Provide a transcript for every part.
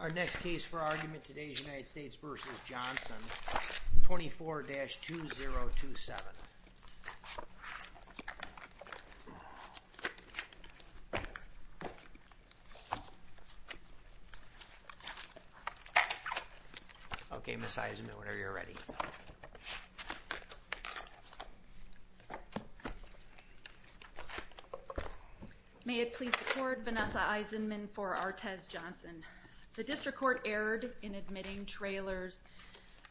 Our next case for argument today is United States v. Johnson, 24-2027. Okay, Ms. Eisenman, whenever you're ready. May it please the court, Vanessa Eisenman for Artez Johnson. The District Court erred in admitting Traylor's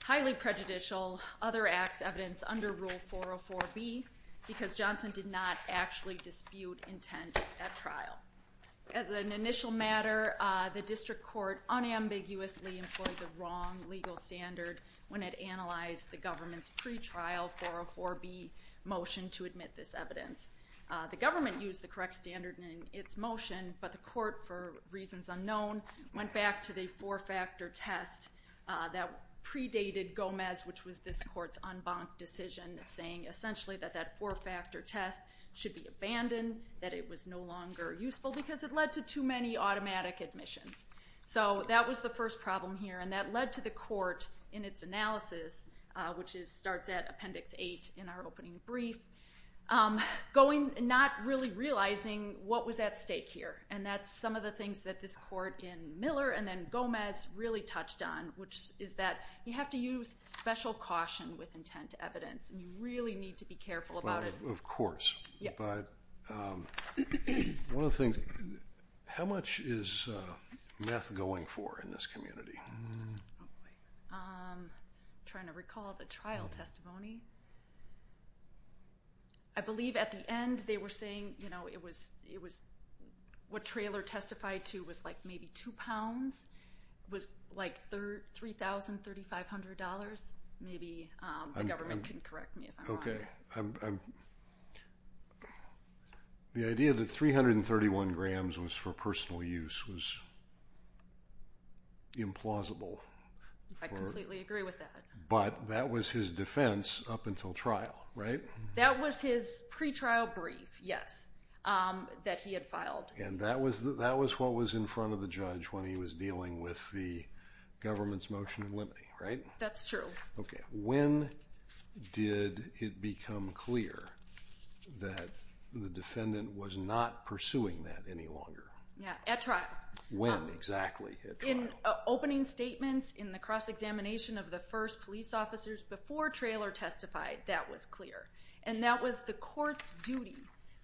highly prejudicial other acts evidence under Rule 404B because Johnson did not actually dispute intent at trial. As an initial matter, the District Court unambiguously employed the wrong legal standard when it analyzed the government's pretrial 404B motion to admit this evidence. The government used the correct standard in its motion, but the court, for reasons unknown, went back to the four-factor test that predated Gomez, which was this court's en banc decision, saying essentially that that four-factor test should be abandoned, that it was no longer useful, because it led to too many automatic admissions. So that was the first problem here, and that led to the court, in its analysis, which starts at Appendix 8 in our opening brief, not really realizing what was at stake here. And that's some of the things that this court in Miller and then Gomez really touched on, which is that you have to use special caution with intent evidence, and you really need to be careful about it. But one of the things, how much is meth going for in this community? I'm trying to recall the trial testimony. I believe at the end they were saying, you know, it was what Traylor testified to was like maybe two pounds. It was like $3,300, maybe. The government can correct me if I'm wrong. Okay. The idea that 331 grams was for personal use was implausible. I completely agree with that. But that was his defense up until trial, right? That was his pretrial brief, yes, that he had filed. And that was what was in front of the judge when he was dealing with the government's motion in limine, right? That's true. Okay. When did it become clear that the defendant was not pursuing that any longer? Yeah, at trial. When exactly at trial? In opening statements, in the cross-examination of the first police officers before Traylor testified, that was clear. And that was the court's duty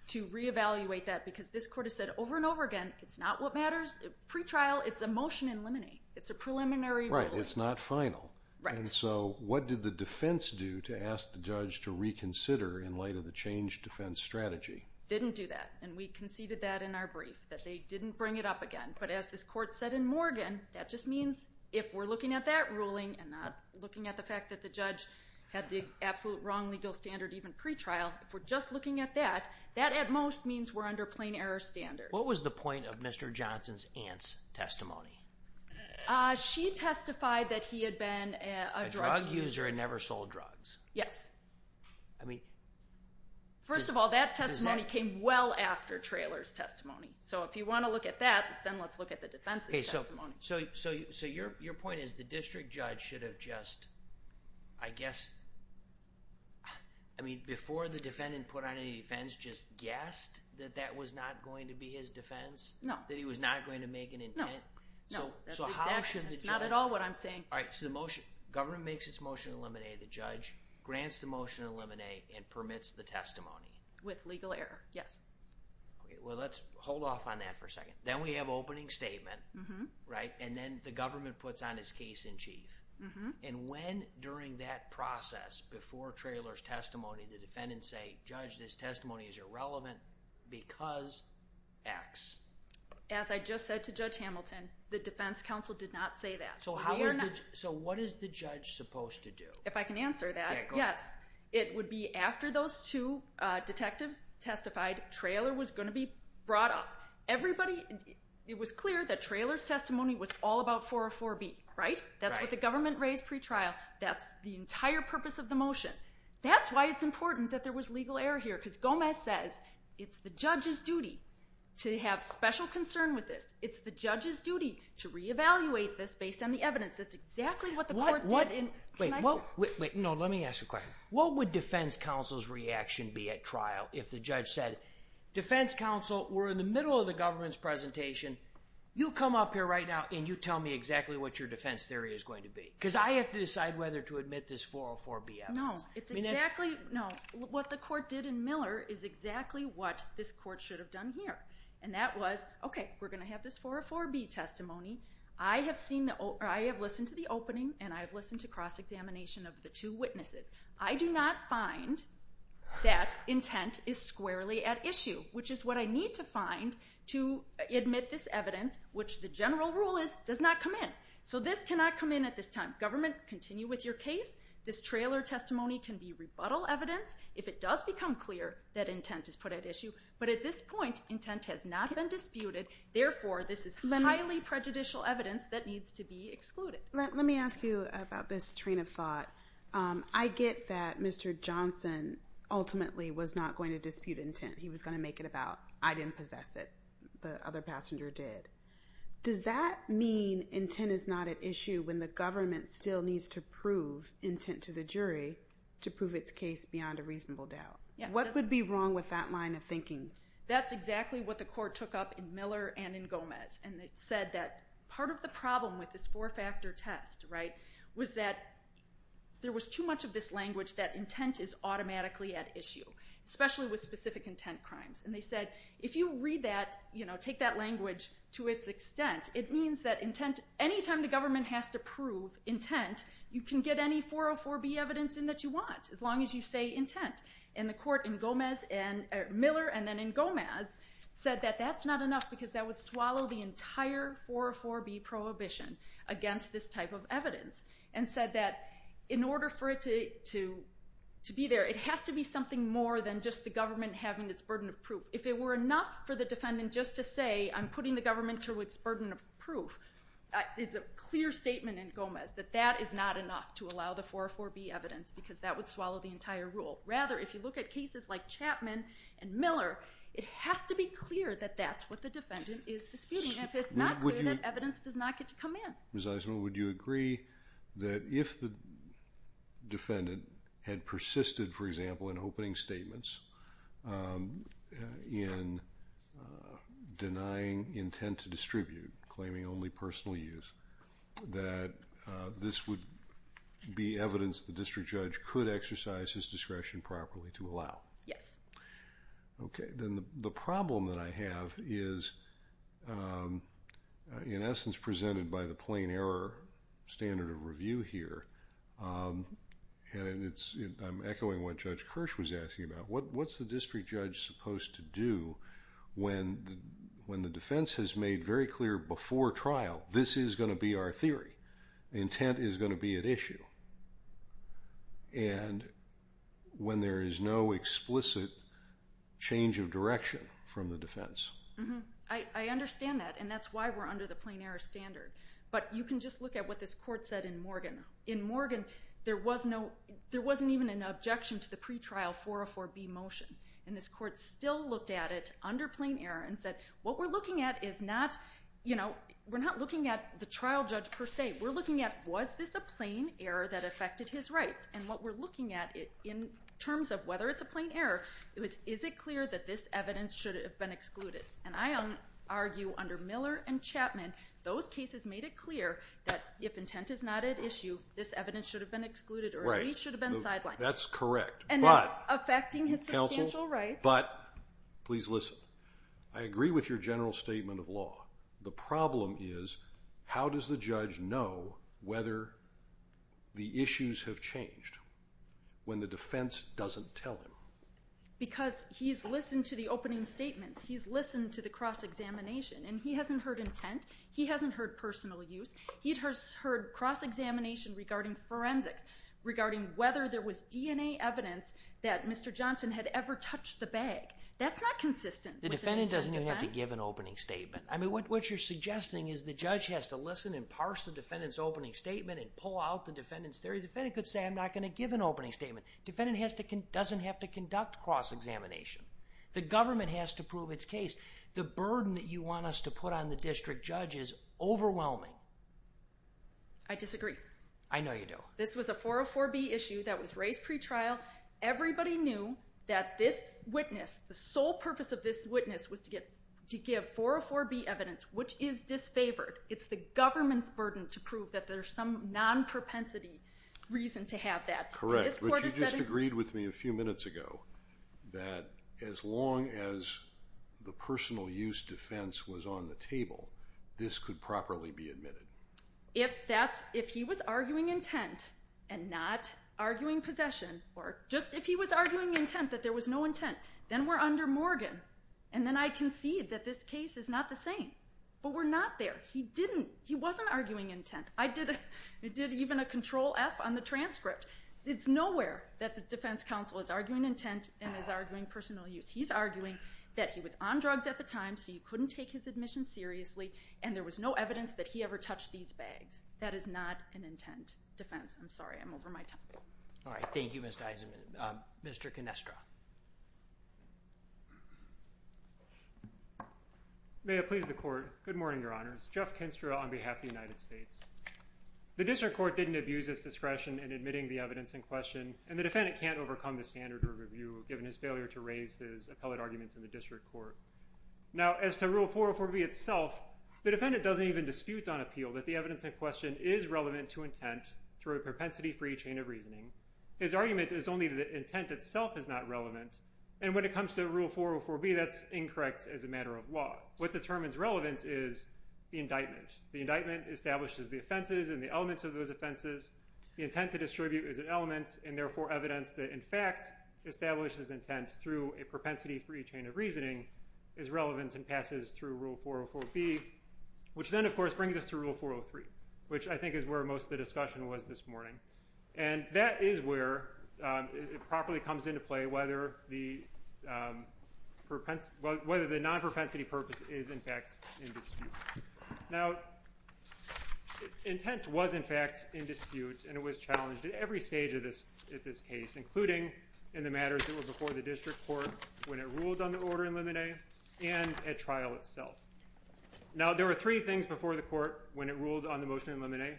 to reevaluate that because this court has said over and over again it's not what matters. Pretrial, it's a motion in limine. It's a preliminary ruling. Right, it's not final. Right. And so what did the defense do to ask the judge to reconsider in light of the changed defense strategy? Didn't do that. And we conceded that in our brief, that they didn't bring it up again. But as this court said in Morgan, that just means if we're looking at that ruling and not looking at the fact that the judge had the absolute wrong legal standard even pretrial, if we're just looking at that, that at most means we're under plain error standards. What was the point of Mr. Johnson's aunt's testimony? She testified that he had been a drug user. A drug user and never sold drugs. Yes. I mean. First of all, that testimony came well after Traylor's testimony. So if you want to look at that, then let's look at the defense's testimony. So your point is the district judge should have just, I guess, I mean, before the defendant put on any defense, just guessed that that was not going to be his defense? No. That he was not going to make an intent? No. So how should the judge. That's not at all what I'm saying. All right. So the motion. Government makes its motion to eliminate. The judge grants the motion to eliminate and permits the testimony. With legal error. Yes. Okay. Well, let's hold off on that for a second. Then we have opening statement. Right. And then the government puts on his case in chief. And when during that process, before Traylor's testimony, the defendants say, Judge, this testimony is irrelevant because X. As I just said to Judge Hamilton, the defense counsel did not say that. So what is the judge supposed to do? If I can answer that. It would be after those two detectives testified, Traylor was going to be brought up. Everybody, it was clear that Traylor's testimony was all about 404B. Right? That's what the government raised pretrial. That's the entire purpose of the motion. That's why it's important that there was legal error here. Because Gomez says it's the judge's duty to have special concern with this. It's the judge's duty to reevaluate this based on the evidence. That's exactly what the court did. Wait. No, let me ask you a question. What would defense counsel's reaction be at trial if the judge said, Defense counsel, we're in the middle of the government's presentation. You come up here right now and you tell me exactly what your defense theory is going to be. Because I have to decide whether to admit this 404B evidence. No. It's exactly. No. What the court did in Miller is exactly what this court should have done here. And that was, okay, we're going to have this 404B testimony. I have listened to the opening and I have listened to cross-examination of the two witnesses. I do not find that intent is squarely at issue, which is what I need to find to admit this evidence, which the general rule is, does not come in. So this cannot come in at this time. Government, continue with your case. This trailer testimony can be rebuttal evidence if it does become clear that intent is put at issue. But at this point, intent has not been disputed. Therefore, this is highly prejudicial evidence that needs to be excluded. Let me ask you about this train of thought. I get that Mr. Johnson ultimately was not going to dispute intent. He was going to make it about I didn't possess it, the other passenger did. Does that mean intent is not at issue when the government still needs to prove intent to the jury to prove its case beyond a reasonable doubt? What would be wrong with that line of thinking? That's exactly what the court took up in Miller and in Gomez. And it said that part of the problem with this four-factor test was that there was too much of this language that intent is automatically at issue, especially with specific intent crimes. And they said if you read that, you know, take that language to its extent, it means that any time the government has to prove intent, you can get any 404B evidence in that you want as long as you say intent. And the court in Miller and then in Gomez said that that's not enough because that would swallow the entire 404B prohibition against this type of evidence. And said that in order for it to be there, it has to be something more than just the government having its burden of proof. If it were enough for the defendant just to say I'm putting the government to its burden of proof, it's a clear statement in Gomez that that is not enough to allow the 404B evidence because that would swallow the entire rule. Rather, if you look at cases like Chapman and Miller, it has to be clear that that's what the defendant is disputing. And if it's not clear, that evidence does not get to come in. Ms. Eisenman, would you agree that if the defendant had persisted, for example, in opening statements in denying intent to distribute, claiming only personal use, that this would be evidence the district judge could exercise his discretion properly to allow? Yes. Okay, then the problem that I have is, in essence, presented by the plain error standard of review here. And I'm echoing what Judge Kirsch was asking about. What's the district judge supposed to do when the defense has made very clear before trial, this is going to be our theory? The intent is going to be at issue? And when there is no explicit change of direction from the defense? I understand that, and that's why we're under the plain error standard. But you can just look at what this court said in Morgan. In Morgan, there wasn't even an objection to the pretrial 404B motion. And this court still looked at it under plain error and said, what we're looking at is not, you know, we're not looking at the trial judge per se. We're looking at, was this a plain error that affected his rights? And what we're looking at in terms of whether it's a plain error, is it clear that this evidence should have been excluded? And I argue under Miller and Chapman, those cases made it clear that if intent is not at issue, this evidence should have been excluded or at least should have been sidelined. That's correct. And not affecting his substantial rights. But, please listen, I agree with your general statement of law. The problem is, how does the judge know whether the issues have changed when the defense doesn't tell him? Because he's listened to the opening statements. He's listened to the cross-examination. And he hasn't heard intent. He hasn't heard personal use. He has heard cross-examination regarding forensics, regarding whether there was DNA evidence that Mr. Johnson had ever touched the bag. That's not consistent. The defendant doesn't even have to give an opening statement. I mean, what you're suggesting is the judge has to listen and parse the defendant's opening statement and pull out the defendant's theory. The defendant could say, I'm not going to give an opening statement. The defendant doesn't have to conduct cross-examination. The government has to prove its case. The burden that you want us to put on the district judge is overwhelming. I disagree. I know you do. This was a 404B issue that was raised pretrial. Everybody knew that this witness, the sole purpose of this witness, was to give 404B evidence, which is disfavored. It's the government's burden to prove that there's some non-propensity reason to have that. Correct. But you just agreed with me a few minutes ago that as long as the personal use defense was on the table, this could properly be admitted. If he was arguing intent and not arguing possession, or just if he was arguing intent that there was no intent, then we're under Morgan. And then I concede that this case is not the same. But we're not there. He wasn't arguing intent. I did even a Control-F on the transcript. It's nowhere that the defense counsel is arguing intent and is arguing personal use. He's arguing that he was on drugs at the time, so you couldn't take his admission seriously, and there was no evidence that he ever touched these bags. That is not an intent defense. I'm sorry. I'm over my time. All right. Thank you, Ms. Deisman. Mr. Kenestra. May it please the Court. Good morning, Your Honors. Jeff Kenestra on behalf of the United States. The district court didn't abuse its discretion in admitting the evidence in question, and the defendant can't overcome the standard of review given his failure to raise his appellate arguments in the district court. Now, as to Rule 404B itself, the defendant doesn't even dispute on appeal that the evidence in question is relevant to intent through a propensity-free chain of reasoning. His argument is only that the intent itself is not relevant. And when it comes to Rule 404B, that's incorrect as a matter of law. What determines relevance is the indictment. The indictment establishes the offenses and the elements of those offenses. The intent to distribute is an element and, therefore, evidence that, in fact, establishes intent through a propensity-free chain of reasoning is relevant and passes through Rule 404B, which then, of course, brings us to Rule 403, which I think is where most of the discussion was this morning. And that is where it properly comes into play whether the non-propensity purpose is, in fact, in dispute. Now, intent was, in fact, in dispute, and it was challenged at every stage of this case, including in the matters that were before the district court when it ruled on the order in limine and at trial itself. Now, there were three things before the court when it ruled on the motion in limine.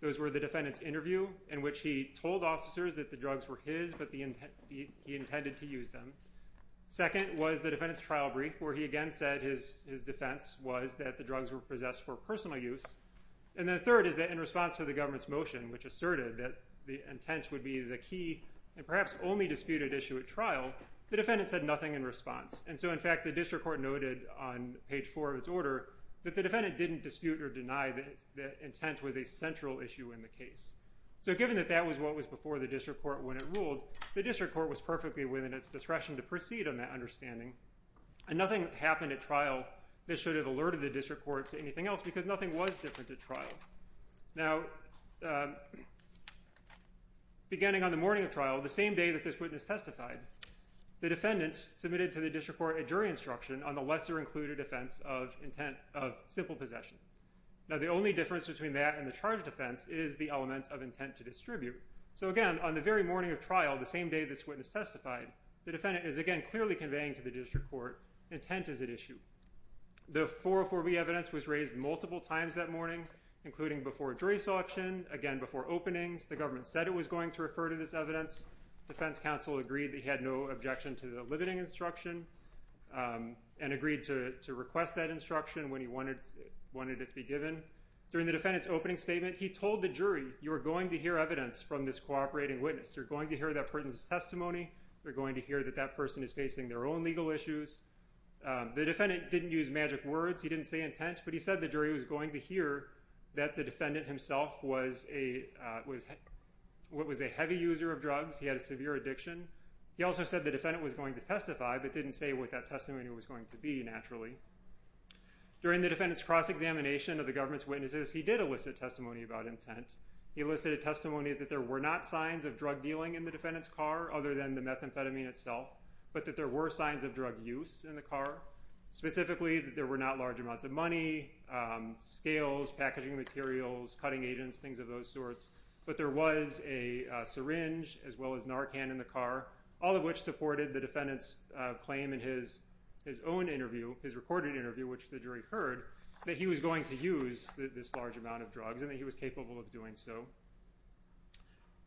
Those were the defendant's interview in which he told officers that the drugs were his but he intended to use them. Second was the defendant's trial brief where he again said his defense was that the drugs were possessed for personal use. And then third is that in response to the government's motion, which asserted that the intent would be the key and perhaps only disputed issue at trial, the defendant said nothing in response. And so, in fact, the district court noted on page 4 of its order that the defendant didn't dispute or deny that intent was a central issue in the case. So given that that was what was before the district court when it ruled, the district court was perfectly within its discretion to proceed on that understanding, and nothing happened at trial that should have alerted the district court to anything else because nothing was different at trial. Now, beginning on the morning of trial, the same day that this witness testified, the defendant submitted to the district court a jury instruction on the lesser-included offense of intent of simple possession. Now, the only difference between that and the charge defense is the element of intent to distribute. So again, on the very morning of trial, the same day this witness testified, the defendant is again clearly conveying to the district court intent is at issue. The 404B evidence was raised multiple times that morning, including before jury selection, again before openings. The government said it was going to refer to this evidence. Defense counsel agreed that he had no objection to the limiting instruction and agreed to request that instruction when he wanted it to be given. During the defendant's opening statement, he told the jury, you are going to hear evidence from this cooperating witness. You're going to hear that person's testimony. You're going to hear that that person is facing their own legal issues. The defendant didn't use magic words. He didn't say intent, but he said the jury was going to hear that the defendant himself was a heavy user of drugs. He had a severe addiction. He also said the defendant was going to testify, but didn't say what that testimony was going to be naturally. During the defendant's cross-examination of the government's witnesses, he did elicit testimony about intent. He elicited testimony that there were not signs of drug dealing in the defendant's car, other than the methamphetamine itself, but that there were signs of drug use in the car. Specifically, that there were not large amounts of money, scales, packaging materials, cutting agents, things of those sorts, but there was a syringe as well as Narcan in the car, all of which supported the defendant's claim in his own interview, his recorded interview, which the jury heard that he was going to use this large amount of drugs and that he was capable of doing so.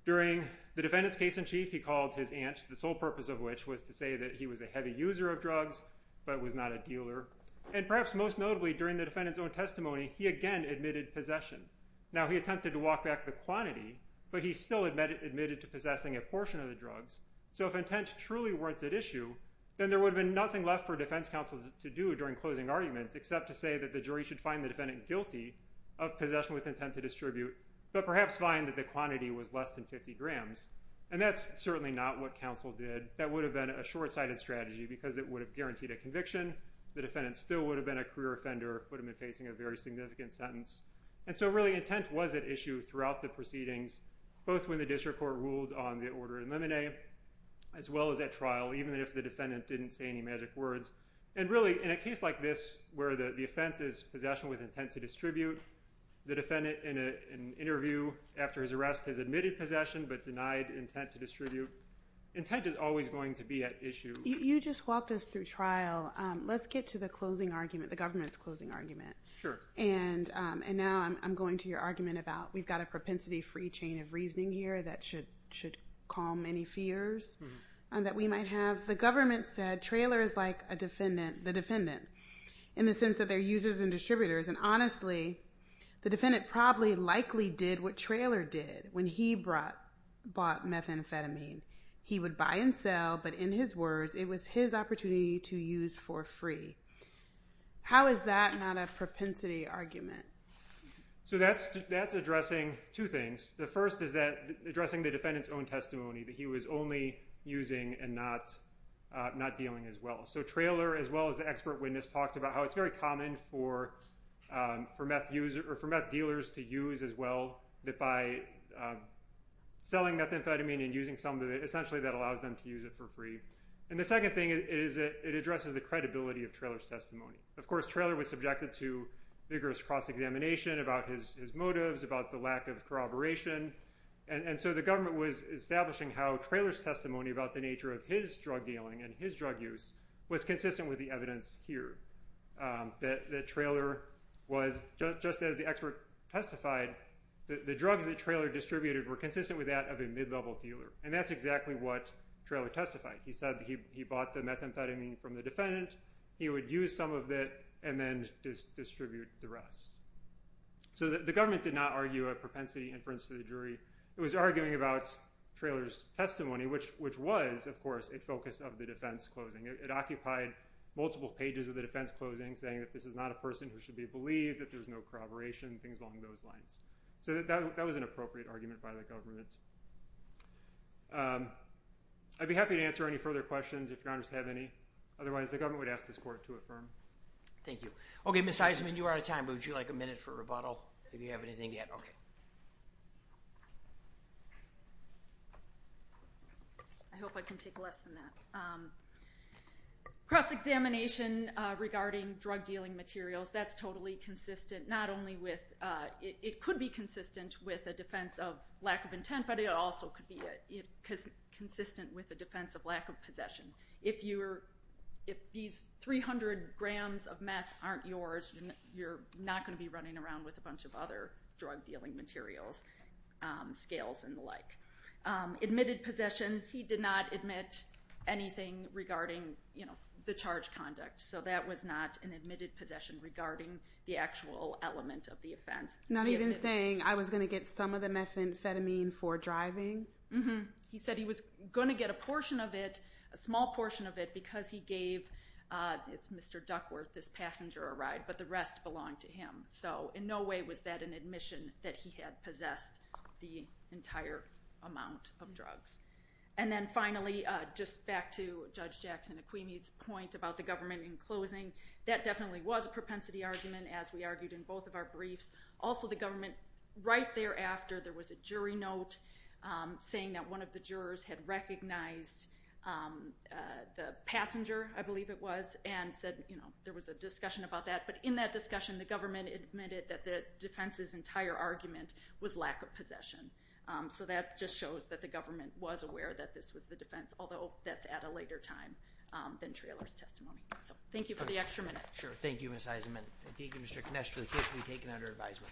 During the defendant's case in chief, he called his aunt, the sole purpose of which was to say that he was a heavy user of drugs, but was not a dealer. And perhaps most notably, during the defendant's own testimony, he again admitted possession. Now, he attempted to walk back the quantity, but he still admitted to possessing a portion of the drugs. So if intent truly weren't at issue, then there would have been nothing left for defense counsel to do during closing arguments, except to say that the jury should find the defendant guilty of possession with intent to distribute, but perhaps find that the quantity was less than 50 grams. And that's certainly not what counsel did. That would have been a short-sighted strategy because it would have guaranteed a conviction. The defendant still would have been a career offender, would have been facing a very significant sentence. And so really, intent was at issue throughout the proceedings, both when the district court ruled on the order in limine, as well as at trial, even if the defendant didn't say any magic words. And really, in a case like this, where the offense is possession with intent to distribute, the defendant in an interview after his arrest has admitted possession but denied intent to distribute, intent is always going to be at issue. You just walked us through trial. Let's get to the closing argument, the government's closing argument. Sure. And now I'm going to your argument about we've got a propensity-free chain of reasoning here that should calm any fears that we might have. The government said Traylor is like a defendant, the defendant, in the sense that they're users and distributors. And honestly, the defendant probably likely did what Traylor did when he bought methamphetamine. He would buy and sell, but in his words, it was his opportunity to use for free. How is that not a propensity argument? So that's addressing two things. The first is addressing the defendant's own testimony that he was only using and not dealing as well. So Traylor, as well as the expert witness, talked about how it's very common for meth dealers to use as well, that by selling methamphetamine and using some of it, essentially that allows them to use it for free. And the second thing is it addresses the credibility of Traylor's testimony. Of course, Traylor was subjected to vigorous cross-examination about his motives, about the lack of corroboration. And so the government was establishing how Traylor's testimony about the nature of his drug dealing and his drug use was consistent with the evidence here. That Traylor was, just as the expert testified, the drugs that Traylor distributed were consistent with that of a mid-level dealer. And that's exactly what Traylor testified. He said he bought the methamphetamine from the defendant, he would use some of it, and then distribute the rest. So the government did not argue a propensity inference to the jury. It was arguing about Traylor's testimony, which was, of course, a focus of the defense closing. It occupied multiple pages of the defense closing, saying that this is not a person who should be believed, that there's no corroboration, things along those lines. So that was an appropriate argument by the government. I'd be happy to answer any further questions if your honors have any. Otherwise, the government would ask this court to affirm. Thank you. Okay, Ms. Eisenman, you are out of time, but would you like a minute for rebuttal, if you have anything yet? I hope I can take less than that. Cross-examination regarding drug dealing materials, that's totally consistent, not only with – it could be consistent with a defense of lack of intent, but it also could be consistent with a defense of lack of possession. If these 300 grams of meth aren't yours, you're not going to be running around with a bunch of other drug dealing materials, scales and the like. Admitted possession, he did not admit anything regarding the charge conduct. So that was not an admitted possession regarding the actual element of the offense. Not even saying, I was going to get some of the methamphetamine for driving? Mm-hmm. He said he was going to get a portion of it, a small portion of it, because he gave Mr. Duckworth, this passenger, a ride, but the rest belonged to him. So in no way was that an admission that he had possessed the entire amount of drugs. And then finally, just back to Judge Jackson Aquini's point about the government in closing, that definitely was a propensity argument, as we argued in both of our briefs. Also, the government right thereafter, there was a jury note saying that one of the jurors had recognized the passenger, I believe it was, and said there was a discussion about that. But in that discussion, the government admitted that the defense's entire argument was lack of possession. So that just shows that the government was aware that this was the defense, although that's at a later time than Traylor's testimony. So thank you for the extra minute. Sure. Thank you, Ms. Eisenman. Thank you, Mr. Kinesh, for the testimony taken under advisement.